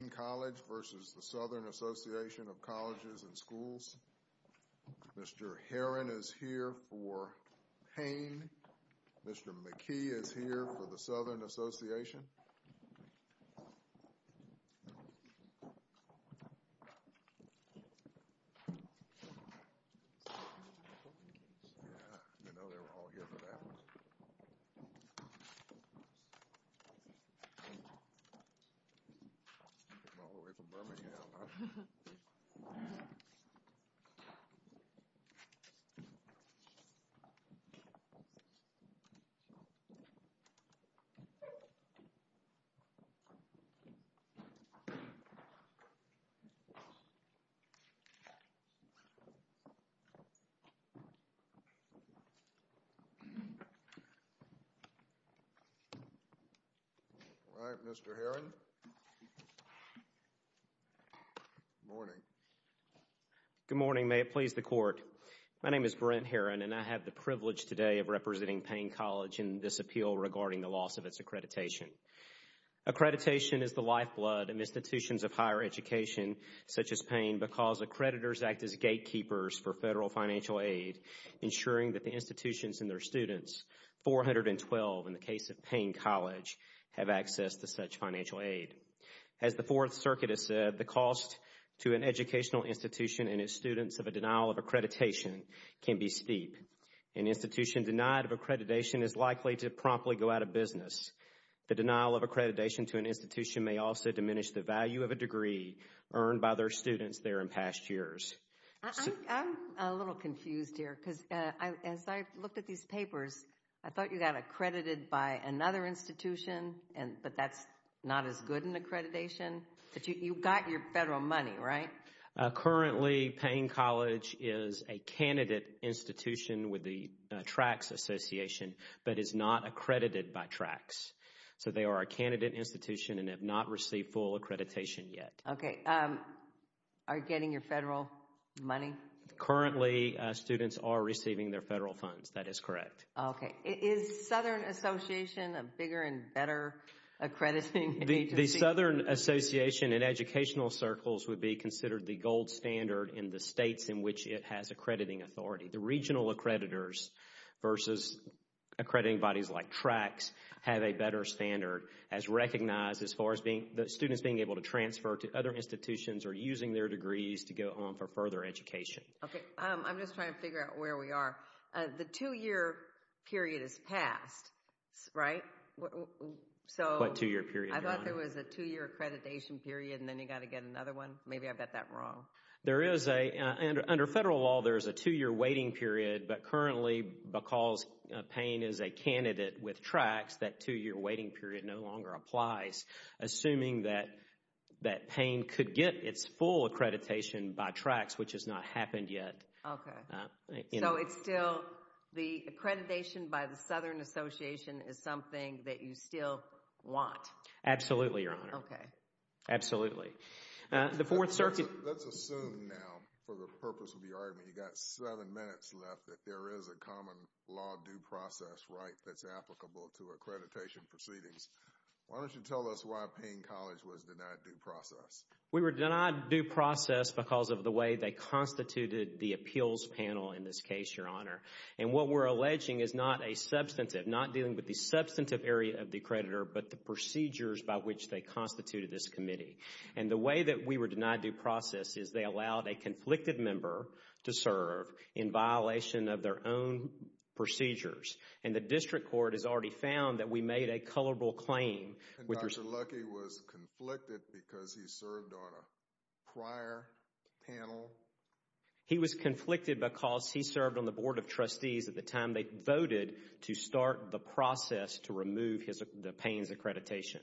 Mr. Herron is here for Paine. Mr. McKee is here for the Southern Association. I know they were all here for that one. They came all the way from Birmingham, huh? All right, Mr. Herron. Good morning. Good morning. May it please the Court. My name is Brent Herron, and I have the privilege today of representing Paine College in this appeal regarding the loss of its accreditation. Accreditation is the lifeblood of institutions of higher education, such as Paine, because accreditors act as gatekeepers for federal financial aid, ensuring that the institutions and their students, 412 in the case of Paine College, have access to such financial aid. As the Fourth Circuit has said, the cost to an educational institution and its students of a denial of accreditation can be steep. An institution denied of accreditation is likely to promptly go out of business. The denial of accreditation to an institution may also diminish the value of a degree earned by their students there in past years. I'm a little confused here, because as I looked at these papers, I thought you got accredited by another institution, but that's not as good an accreditation. You got your federal money, right? Currently, Paine College is a candidate institution with the TRACS Association, but is not accredited by TRACS. So they are a candidate institution and have not received full accreditation yet. Okay. Are you getting your federal money? Currently, students are receiving their federal funds. That is correct. Okay. Is Southern Association a bigger and better accrediting agency? The Southern Association in educational circles would be considered the gold standard in the states in which it has accrediting authority. The regional accreditors versus accrediting bodies like TRACS have a better standard as recognized as far as students being able to transfer to other institutions or using their degrees to go on for further education. Okay. I'm just trying to figure out where we are. The two-year period has passed, right? What two-year period? I thought there was a two-year accreditation period and then you got to get another one. Maybe I got that wrong. Under federal law, there is a two-year waiting period, but currently, because Paine is a candidate with TRACS, that two-year waiting period no longer applies, assuming that Paine could get its full accreditation by TRACS, which has not happened yet. Okay. So it's still the accreditation by the Southern Association is something that you still want? Absolutely, Your Honor. Okay. Absolutely. Let's assume now, for the purpose of your argument, you've got seven minutes left that there is a common law due process right that's applicable to accreditation proceedings. Why don't you tell us why Paine College was denied due process? We were denied due process because of the way they constituted the appeals panel in this case, Your Honor. And what we're alleging is not a substantive, not dealing with the substantive area of the accreditor, but the procedures by which they constituted this committee. And the way that we were denied due process is they allowed a conflicted member to serve in violation of their own procedures. And the district court has already found that we made a culpable claim. And Dr. Luckey was conflicted because he served on a prior panel? He was conflicted because he served on the Board of Trustees at the time they voted to start the process to remove the Paine's accreditation.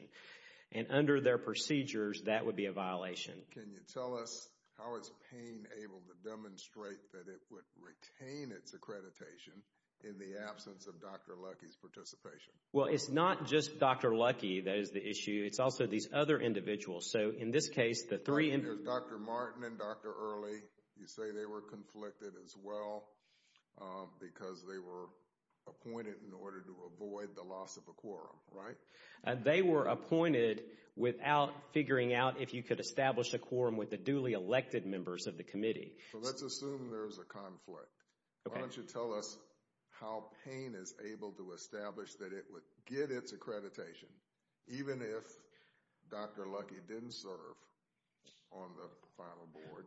And under their procedures, that would be a violation. Can you tell us how is Paine able to demonstrate that it would retain its accreditation in the absence of Dr. Luckey's participation? Well, it's not just Dr. Luckey that is the issue. It's also these other individuals. So, in this case, the three— There's Dr. Martin and Dr. Early. You say they were conflicted as well because they were appointed in order to avoid the loss of a quorum, right? They were appointed without figuring out if you could establish a quorum with the duly elected members of the committee. So, let's assume there's a conflict. Okay. Why don't you tell us how Paine is able to establish that it would get its accreditation even if Dr. Luckey didn't serve on the final board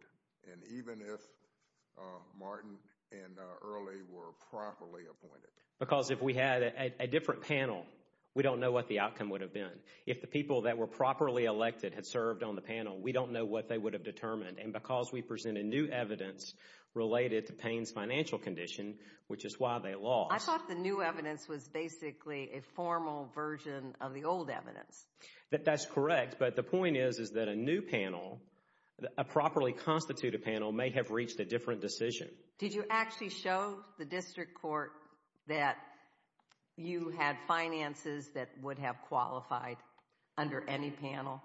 and even if Martin and Early were properly appointed? Because if we had a different panel, we don't know what the outcome would have been. If the people that were properly elected had served on the panel, we don't know what they would have determined. And because we presented new evidence related to Paine's financial condition, which is why they lost— I thought the new evidence was basically a formal version of the old evidence. That's correct, but the point is that a new panel, a properly constituted panel, may have reached a different decision. Did you actually show the district court that you had finances that would have qualified under any panel?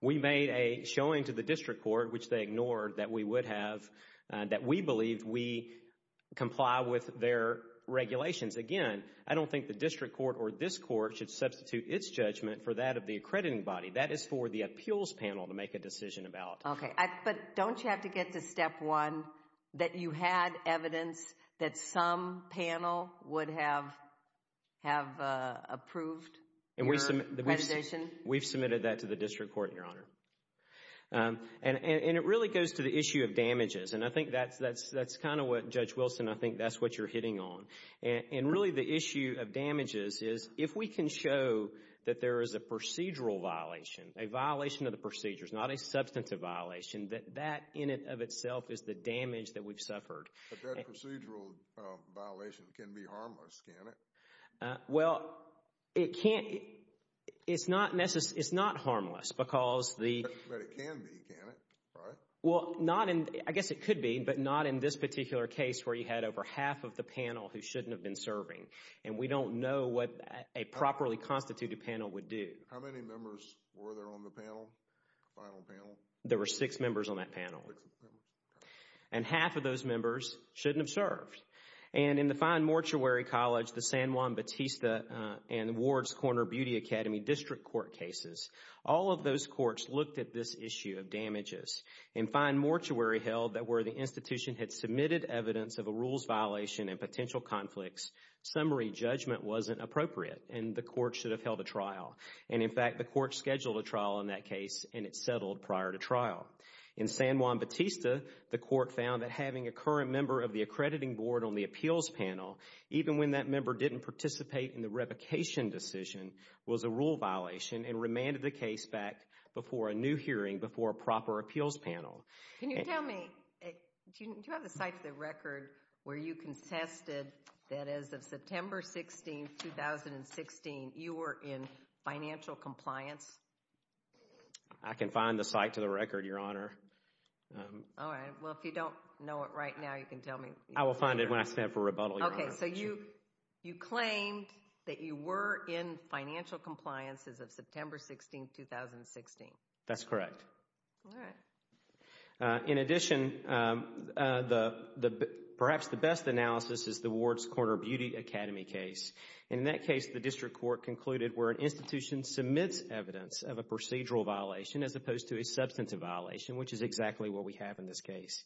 We made a showing to the district court, which they ignored, that we would have—that we believe we comply with their regulations. Again, I don't think the district court or this court should substitute its judgment for that of the accrediting body. That is for the appeals panel to make a decision about. Okay, but don't you have to get to step one that you had evidence that some panel would have approved your accreditation? We've submitted that to the district court, Your Honor. And it really goes to the issue of damages, and I think that's kind of what, Judge Wilson, I think that's what you're hitting on. And really the issue of damages is if we can show that there is a procedural violation, a violation of the procedures, not a substantive violation, that that in and of itself is the damage that we've suffered. But that procedural violation can be harmless, can it? Well, it can't—it's not harmless because the— But it can be, can it, right? Well, not in—I guess it could be, but not in this particular case where you had over half of the panel who shouldn't have been serving. And we don't know what a properly constituted panel would do. How many members were there on the panel, final panel? There were six members on that panel. And half of those members shouldn't have served. And in the fine mortuary college, the San Juan Batista and Ward's Corner Beauty Academy District Court cases, all of those courts looked at this issue of damages. In fine mortuary held that where the institution had submitted evidence of a rules violation and potential conflicts, summary judgment wasn't appropriate, and the court should have held a trial. And, in fact, the court scheduled a trial in that case, and it settled prior to trial. In San Juan Batista, the court found that having a current member of the accrediting board on the appeals panel, even when that member didn't participate in the revocation decision, was a rule violation and remanded the case back before a new hearing, before a proper appeals panel. Can you tell me, do you have a site to the record where you contested that as of September 16, 2016, you were in financial compliance? I can find the site to the record, Your Honor. All right, well, if you don't know it right now, you can tell me. I will find it when I stand for rebuttal, Your Honor. Okay, so you claimed that you were in financial compliance as of September 16, 2016. That's correct. All right. In addition, perhaps the best analysis is the Ward's Corner Beauty Academy case. In that case, the district court concluded where an institution submits evidence of a procedural violation as opposed to a substantive violation, which is exactly what we have in this case.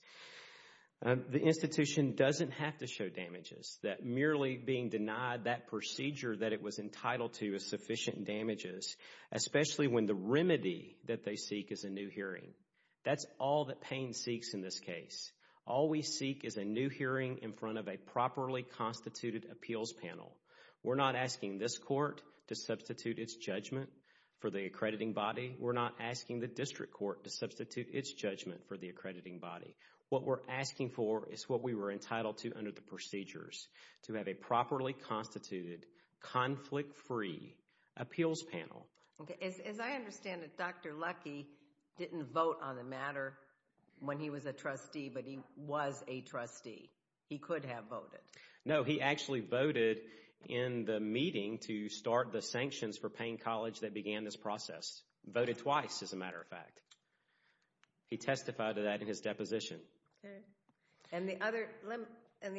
The institution doesn't have to show damages. That merely being denied that procedure that it was entitled to is sufficient damages, especially when the remedy that they seek is a new hearing. That's all that Payne seeks in this case. All we seek is a new hearing in front of a properly constituted appeals panel. We're not asking this court to substitute its judgment for the accrediting body. We're not asking the district court to substitute its judgment for the accrediting body. What we're asking for is what we were entitled to under the procedures, to have a properly constituted, conflict-free appeals panel. As I understand it, Dr. Luckey didn't vote on the matter when he was a trustee, but he was a trustee. He could have voted. No, he actually voted in the meeting to start the sanctions for Payne College that began this process. Voted twice, as a matter of fact. He testified to that in his deposition. And the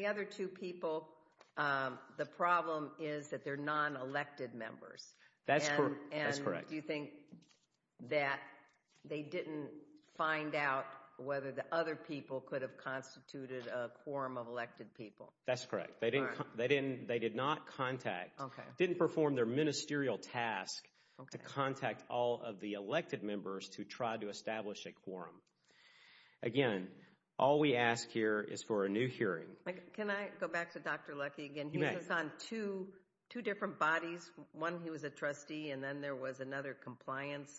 other two people, the problem is that they're non-elected members. That's correct. And do you think that they didn't find out whether the other people could have constituted a quorum of elected people? That's correct. They did not contact, didn't perform their ministerial task to contact all of the elected members to try to establish a quorum. Again, all we ask here is for a new hearing. Can I go back to Dr. Luckey again? You may. He was on two different bodies. One, he was a trustee, and then there was another compliance.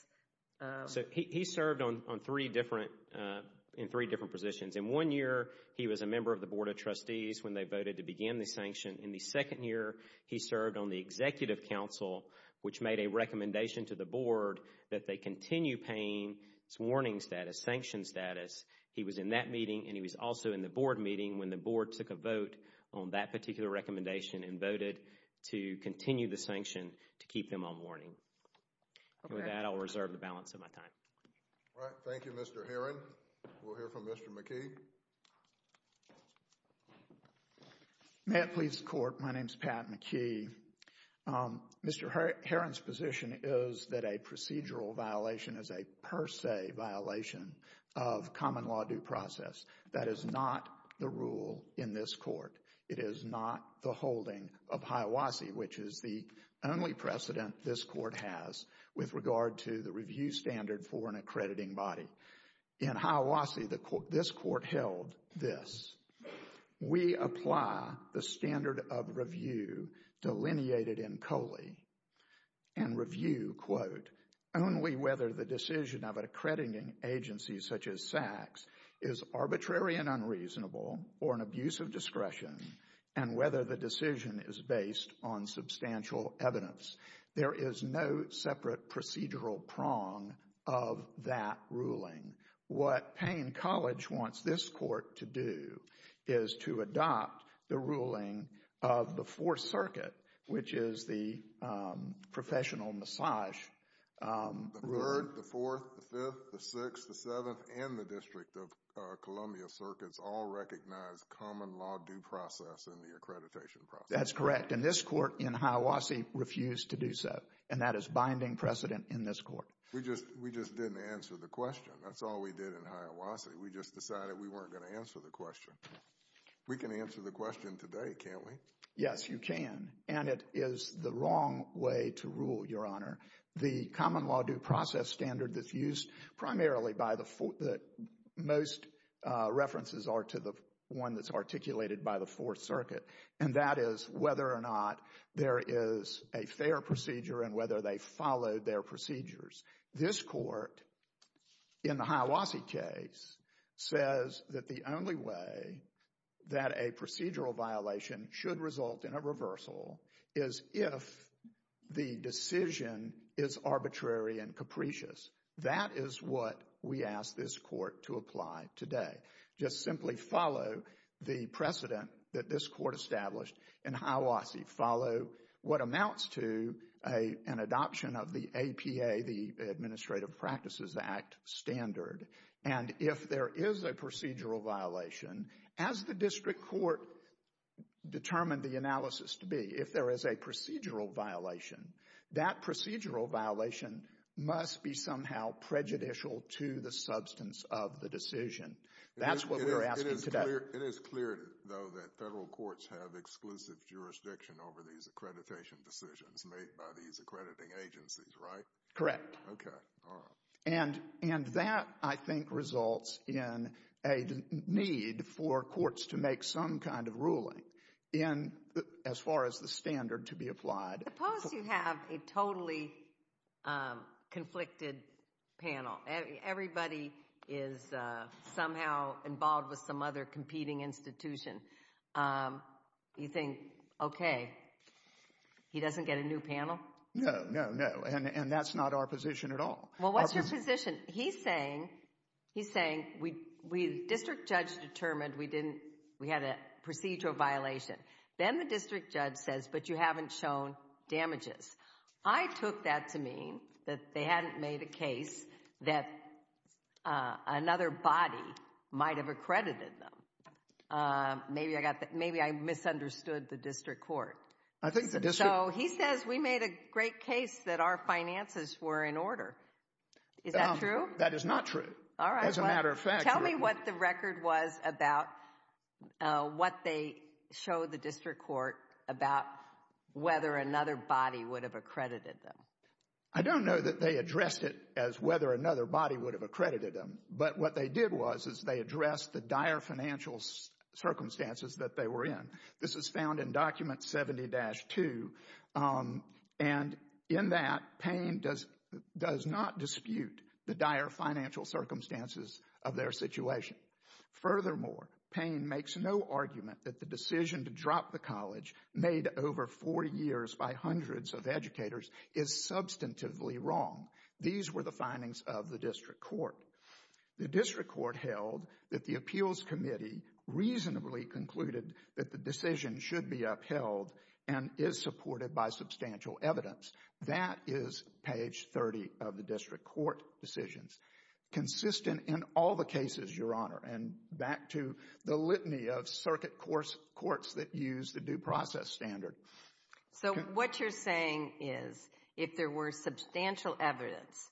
He served in three different positions. In one year, he was a member of the Board of Trustees when they voted to begin the sanction. In the second year, he served on the Executive Council, which made a recommendation to the board that they continue Payne's warning status, sanction status. He was in that meeting, and he was also in the board meeting when the board took a vote on that particular recommendation and voted to continue the sanction to keep them on warning. Okay. With that, I'll reserve the balance of my time. All right. Thank you, Mr. Herron. We'll hear from Mr. McKee. May it please the Court, my name is Pat McKee. Mr. Herron's position is that a procedural violation is a per se violation of common law due process. That is not the rule in this court. It is not the holding of HIAWASI, which is the only precedent this court has with regard to the review standard for an accrediting body. In HIAWASI, this court held this. We apply the standard of review delineated in COLE and review, quote, only whether the decision of an accrediting agency such as SACS is arbitrary and unreasonable or an abuse of discretion and whether the decision is based on substantial evidence. There is no separate procedural prong of that ruling. What Payne College wants this court to do is to adopt the ruling of the Fourth Circuit, which is the professional massage. The Third, the Fourth, the Fifth, the Sixth, the Seventh, and the District of Columbia Circuits all recognize common law due process in the accreditation process. That's correct, and this court in HIAWASI refused to do so, and that is binding precedent in this court. We just didn't answer the question. That's all we did in HIAWASI. We just decided we weren't going to answer the question. We can answer the question today, can't we? Yes, you can, and it is the wrong way to rule, Your Honor. The common law due process standard that's used primarily by the, that most references are to the one that's articulated by the Fourth Circuit, and that is whether or not there is a fair procedure and whether they followed their procedures. This court in the HIAWASI case says that the only way that a procedural violation should result in a reversal is if the decision is arbitrary and capricious. That is what we ask this court to apply today. Just simply follow the precedent that this court established in HIAWASI. Follow what amounts to an adoption of the APA, the Administrative Practices Act standard, and if there is a procedural violation, as the district court determined the analysis to be, if there is a procedural violation, that procedural violation must be somehow prejudicial to the substance of the decision. That's what we are asking today. It is clear, though, that federal courts have exclusive jurisdiction over these accreditation decisions made by these accrediting agencies, right? Correct. Okay, all right. And that, I think, results in a need for courts to make some kind of ruling as far as the standard to be applied. Suppose you have a totally conflicted panel. Everybody is somehow involved with some other competing institution. You think, okay, he doesn't get a new panel? No, no, no, and that's not our position at all. Well, what's your position? He's saying, he's saying, the district judge determined we had a procedural violation. Then the district judge says, but you haven't shown damages. I took that to mean that they hadn't made a case that another body might have accredited them. Maybe I misunderstood the district court. So he says we made a great case that our finances were in order. Is that true? That is not true. As a matter of fact. Tell me what the record was about what they showed the district court about whether another body would have accredited them. I don't know that they addressed it as whether another body would have accredited them, but what they did was they addressed the dire financial circumstances that they were in. This is found in document 70-2, and in that Payne does not dispute the dire financial circumstances of their situation. Furthermore, Payne makes no argument that the decision to drop the college made over four years by hundreds of educators is substantively wrong. These were the findings of the district court. The district court held that the appeals committee reasonably concluded that the decision should be upheld and is supported by substantial evidence. That is page 30 of the district court decisions, consistent in all the cases, Your Honor. And back to the litany of circuit courts that use the due process standard. So what you're saying is if there were substantial evidence,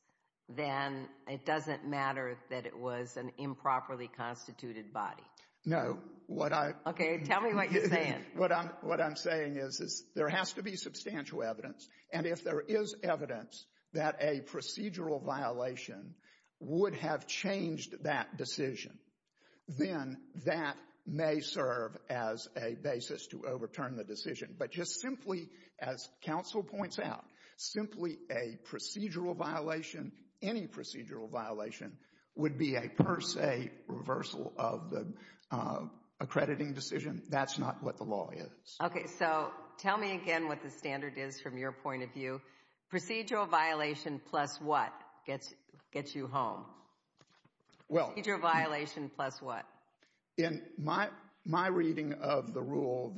then it doesn't matter that it was an improperly constituted body. No. Okay, tell me what you're saying. What I'm saying is there has to be substantial evidence, and if there is evidence that a procedural violation would have changed that decision, then that may serve as a basis to overturn the decision. But just simply, as counsel points out, simply a procedural violation, any procedural violation, would be a per se reversal of the accrediting decision. That's not what the law is. Okay, so tell me again what the standard is from your point of view. Procedural violation plus what gets you home? Procedural violation plus what? In my reading of the rule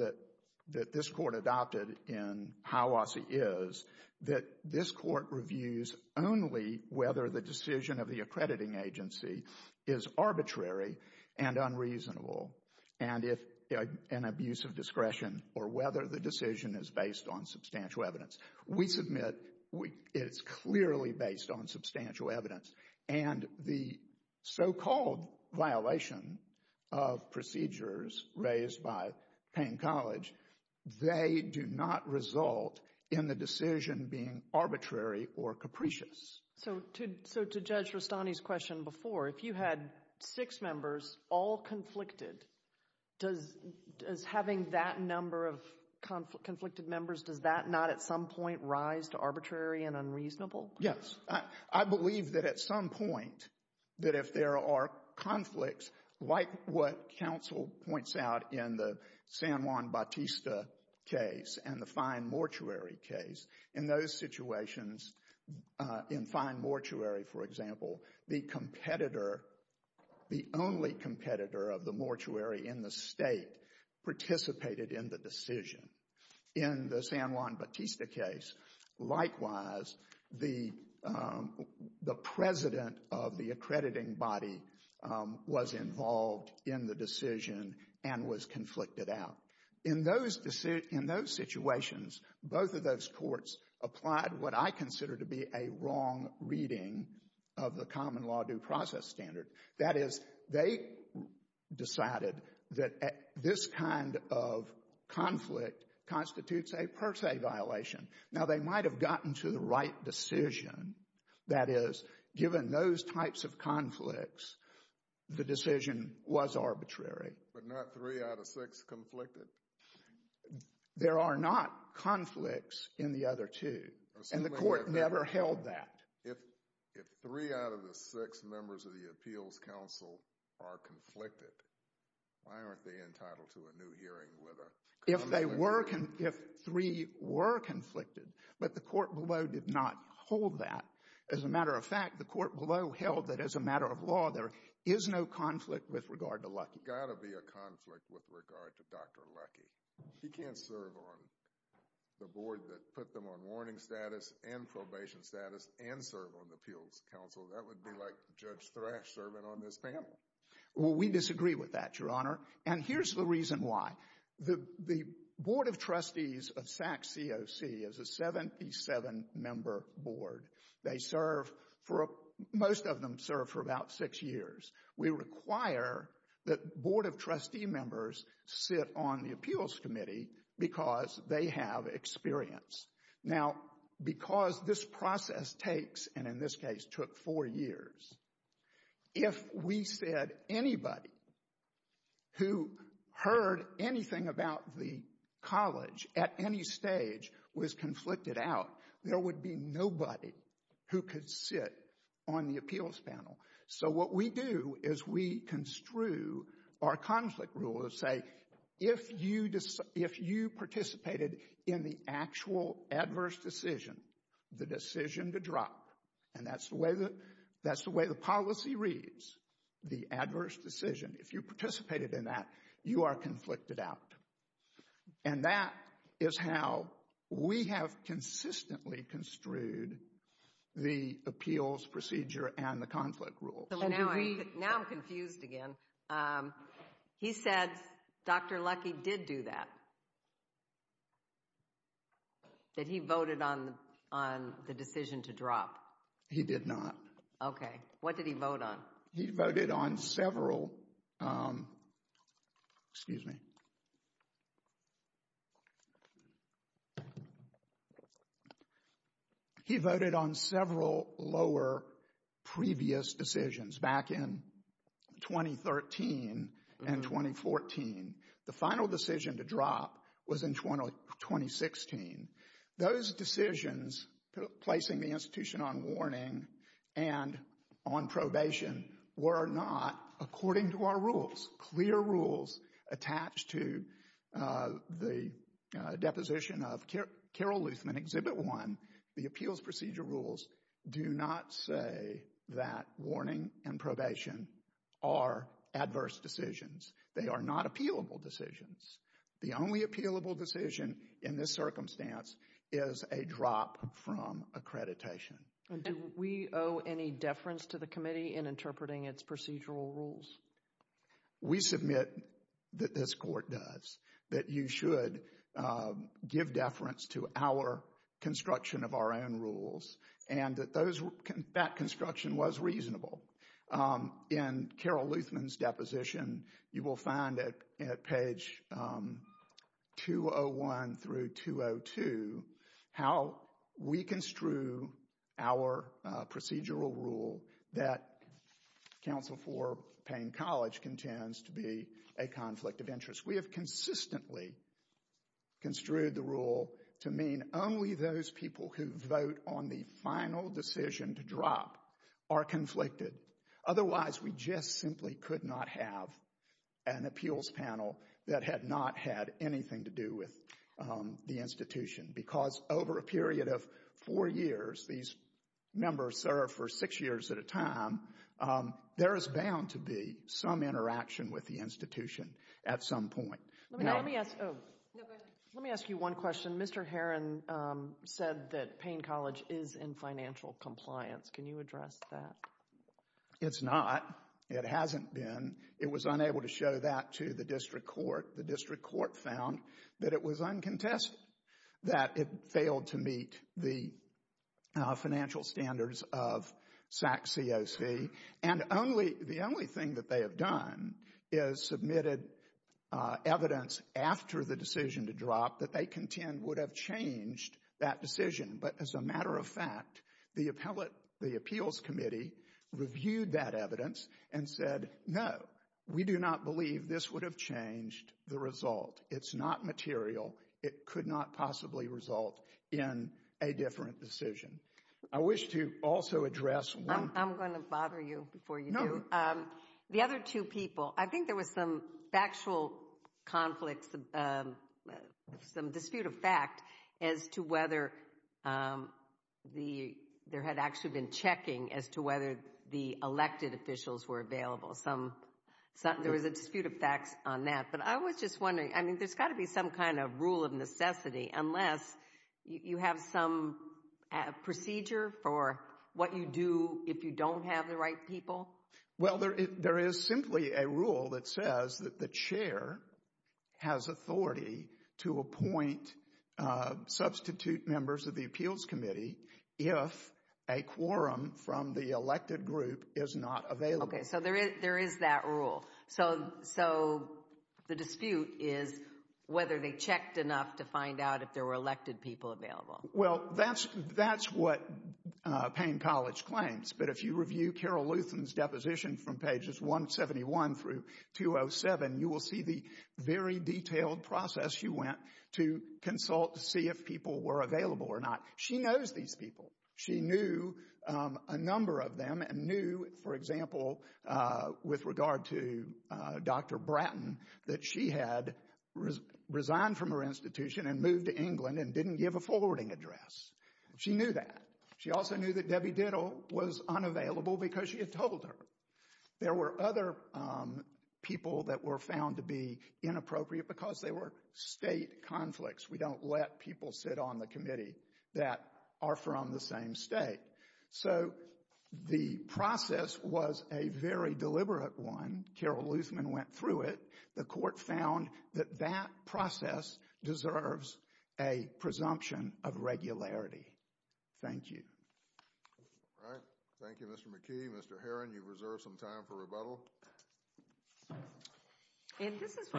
that this court adopted in Hiawassee is that this court reviews only whether the decision of the accrediting agency is arbitrary and unreasonable, and if an abuse of discretion, or whether the decision is based on substantial evidence. We submit it's clearly based on substantial evidence, and the so-called violation of procedures raised by Payne College, they do not result in the decision being arbitrary or capricious. So to Judge Rustani's question before, if you had six members, all conflicted, does having that number of conflicted members, does that not at some point rise to arbitrary and unreasonable? Yes. I believe that at some point, that if there are conflicts like what counsel points out in the San Juan Bautista case and the fine mortuary case, in those situations, in fine mortuary, for example, the competitor, the only competitor of the mortuary in the state participated in the decision. In the San Juan Bautista case, likewise, the president of the accrediting body was involved in the decision and was conflicted out. In those situations, both of those courts applied what I consider to be a wrong reading of the common law due process standard. That is, they decided that this kind of conflict constitutes a per se violation. Now, they might have gotten to the right decision. That is, given those types of conflicts, the decision was arbitrary. But not three out of six conflicted? There are not conflicts in the other two, and the court never held that. If three out of the six members of the appeals counsel are conflicted, why aren't they entitled to a new hearing with a conflict? If they were, if three were conflicted, but the court below did not hold that. As a matter of fact, the court below held that as a matter of law, there is no conflict with regard to Luckey. There has got to be a conflict with regard to Dr. Luckey. He can't serve on the board that put them on warning status and probation status and serve on the appeals counsel. That would be like Judge Thrash serving on this panel. Well, we disagree with that, Your Honor. And here's the reason why. The Board of Trustees of Sac COC is a 77-member board. They serve for, most of them serve for about six years. We require that Board of Trustee members sit on the appeals committee because they have experience. Now, because this process takes, and in this case took, four years, if we said anybody who heard anything about the college at any stage was conflicted out, there would be nobody who could sit on the appeals panel. So what we do is we construe our conflict rule to say, if you participated in the actual adverse decision, the decision to drop, and that's the way the policy reads, the adverse decision, if you participated in that, you are conflicted out. And that is how we have consistently construed the appeals procedure and the conflict rules. Now I'm confused again. He said Dr. Luckey did do that, that he voted on the decision to drop. He did not. Okay. What did he vote on? He voted on several, excuse me. He voted on several lower previous decisions back in 2013 and 2014. The final decision to drop was in 2016. Those decisions, placing the institution on warning and on probation, were not according to our rules. Clear rules attached to the deposition of Carol Luthman, Exhibit 1, the appeals procedure rules, do not say that warning and probation are adverse decisions. They are not appealable decisions. The only appealable decision in this circumstance is a drop from accreditation. Do we owe any deference to the committee in interpreting its procedural rules? We submit that this court does, that you should give deference to our construction of our own rules and that that construction was reasonable. In Carol Luthman's deposition, you will find at page 201 through 202, how we construe our procedural rule that Council for Payne College contends to be a conflict of interest. We have consistently construed the rule to mean only those people who vote on the final decision to drop are conflicted. Otherwise, we just simply could not have an appeals panel that had not had anything to do with the institution because over a period of four years, these members serve for six years at a time, there is bound to be some interaction with the institution at some point. Let me ask you one question. Mr. Heron said that Payne College is in financial compliance. Can you address that? It's not. It hasn't been. It was unable to show that to the district court. The district court found that it was uncontested, that it failed to meet the financial standards of SACCOC, and the only thing that they have done is submitted evidence after the decision to drop that they contend would have changed that decision. But as a matter of fact, the appeals committee reviewed that evidence and said, no, we do not believe this would have changed the result. It's not material. It could not possibly result in a different decision. I wish to also address one thing. I'm going to bother you before you do. No. The other two people, I think there was some factual conflicts, some dispute of fact as to whether there had actually been checking as to whether the elected officials were available. There was a dispute of facts on that. But I was just wondering, I mean, there's got to be some kind of rule of necessity unless you have some procedure for what you do if you don't have the right people. Well, there is simply a rule that says that the chair has authority to appoint substitute members of the appeals committee if a quorum from the elected group is not available. Okay, so there is that rule. So the dispute is whether they checked enough to find out if there were elected people available. Well, that's what Payne College claims. But if you review Carol Luthan's deposition from pages 171 through 207, you will see the very detailed process she went to consult to see if people were available or not. She knows these people. She knew a number of them and knew, for example, with regard to Dr. Bratton, that she had resigned from her institution and moved to England and didn't give a forwarding address. She knew that. She also knew that Debbie Diddle was unavailable because she had told her. There were other people that were found to be inappropriate because they were state conflicts. We don't let people sit on the committee that are from the same state. So the process was a very deliberate one. Carol Luthan went through it. The court found that that process deserves a presumption of regularity. Thank you. All right. Thank you, Mr. McKee. Mr. Herron, you've reserved some time for rebuttal. And this is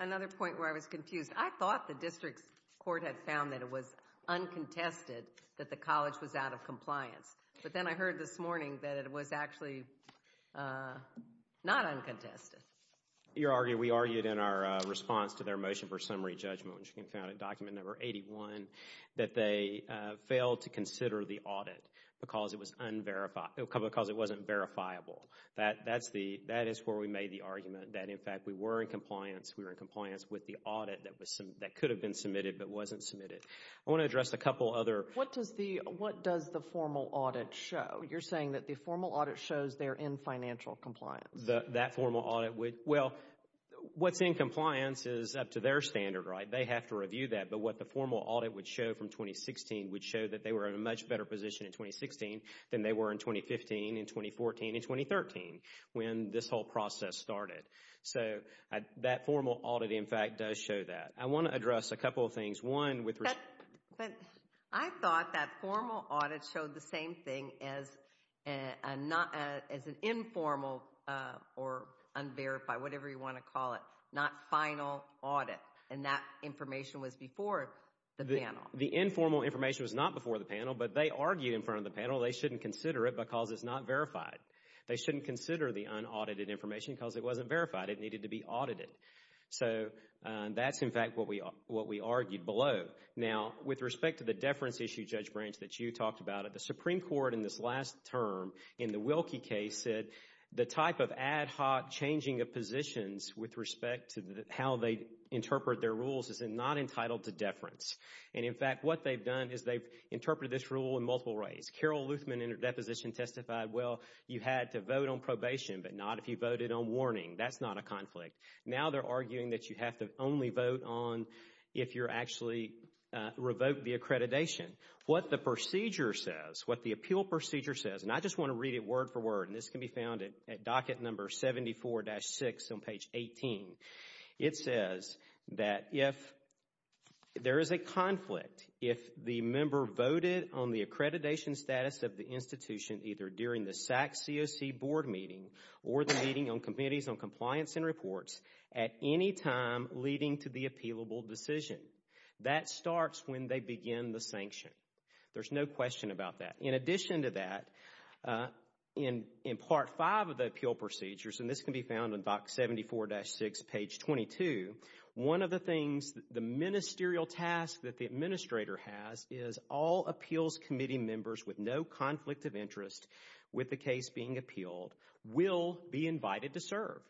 another point where I was confused. I thought the district court had found that it was uncontested that the college was out of compliance. But then I heard this morning that it was actually not uncontested. We argued in our response to their motion for summary judgment, which we found in document number 81, that they failed to consider the audit because it wasn't verifiable. That is where we made the argument that, in fact, we were in compliance. We were in compliance with the audit that could have been submitted but wasn't submitted. I want to address a couple other. What does the formal audit show? You're saying that the formal audit shows they're in financial compliance. That formal audit would. Well, what's in compliance is up to their standard, right? They have to review that. But what the formal audit would show from 2016 would show that they were in a much better position in 2016 than they were in 2015 and 2014 and 2013 when this whole process started. So that formal audit, in fact, does show that. I want to address a couple of things. But I thought that formal audit showed the same thing as an informal or unverified, whatever you want to call it, not final audit, and that information was before the panel. The informal information was not before the panel, but they argued in front of the panel they shouldn't consider it because it's not verified. They shouldn't consider the unaudited information because it wasn't verified. It needed to be audited. So that's, in fact, what we argued below. Now, with respect to the deference issue, Judge Branch, that you talked about, the Supreme Court in this last term in the Wilkie case said the type of ad hoc changing of positions with respect to how they interpret their rules is not entitled to deference. And, in fact, what they've done is they've interpreted this rule in multiple ways. Carol Luthman, in her deposition, testified, well, you had to vote on probation, but not if you voted on warning. That's not a conflict. Now they're arguing that you have to only vote on if you're actually revoked the accreditation. What the procedure says, what the appeal procedure says, and I just want to read it word for word, and this can be found at docket number 74-6 on page 18. It says that if there is a conflict, if the member voted on the accreditation status of the institution either during the SAC COC board meeting or the meeting on committees on compliance and reports at any time leading to the appealable decision, that starts when they begin the sanction. There's no question about that. In addition to that, in part five of the appeal procedures, and this can be found on docket 74-6, page 22, one of the things, the ministerial task that the administrator has is all appeals committee members with no conflict of interest with the case being appealed will be invited to serve.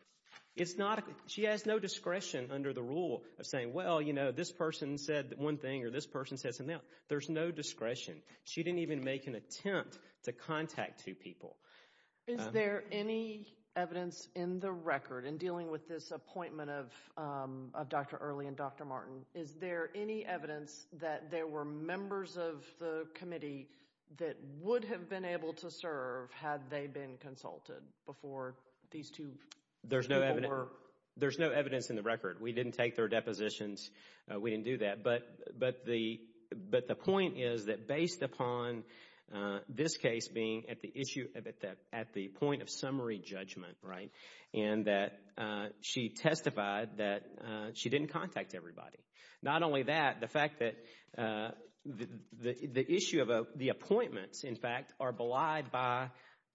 She has no discretion under the rule of saying, well, you know, this person said one thing or this person says another. There's no discretion. She didn't even make an attempt to contact two people. Is there any evidence in the record in dealing with this appointment of Dr. Early and Dr. Martin, is there any evidence that there were members of the committee that would have been able to serve had they been consulted before these two people were? There's no evidence in the record. We didn't take their depositions. We didn't do that. But the point is that based upon this case being at the point of summary judgment and that she testified that she didn't contact everybody, not only that, the fact that the issue of the appointments, in fact, are belied by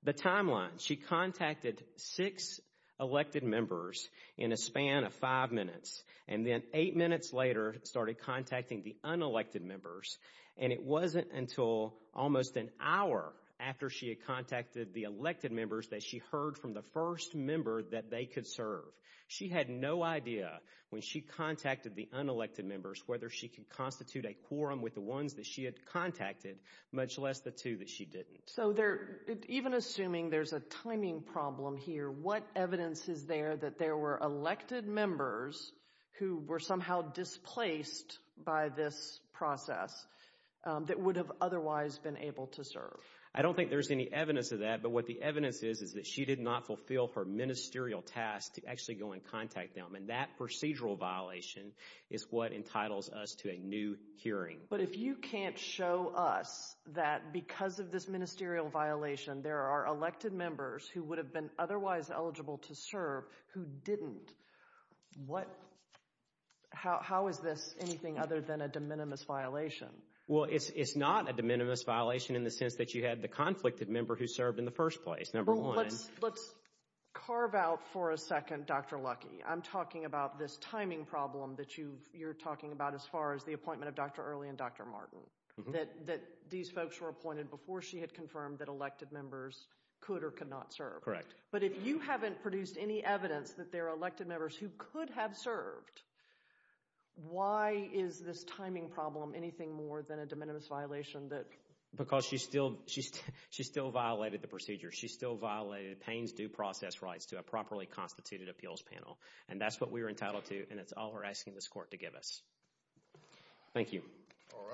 the timeline. She contacted six elected members in a span of five minutes, and then eight minutes later started contacting the unelected members, and it wasn't until almost an hour after she had contacted the elected members that she heard from the first member that they could serve. She had no idea when she contacted the unelected members whether she could constitute a quorum with the ones that she had contacted, much less the two that she didn't. So even assuming there's a timing problem here, what evidence is there that there were elected members who were somehow displaced by this process that would have otherwise been able to serve? I don't think there's any evidence of that, but what the evidence is is that she did not fulfill her ministerial task to actually go and contact them, and that procedural violation is what entitles us to a new hearing. But if you can't show us that because of this ministerial violation there are elected members who would have been otherwise eligible to serve who didn't, how is this anything other than a de minimis violation? Well, it's not a de minimis violation in the sense that you had the conflicted member who served in the first place, number one. Let's carve out for a second Dr. Luckey. I'm talking about this timing problem that you're talking about as far as the appointment of Dr. Early and Dr. Martin, that these folks were appointed before she had confirmed that elected members could or could not serve. Correct. But if you haven't produced any evidence that there are elected members who could have served, why is this timing problem anything more than a de minimis violation? Because she still violated the procedure. She still violated Payne's due process rights to a properly constituted appeals panel, and that's what we were entitled to, and it's all we're asking this court to give us. Thank you. All right.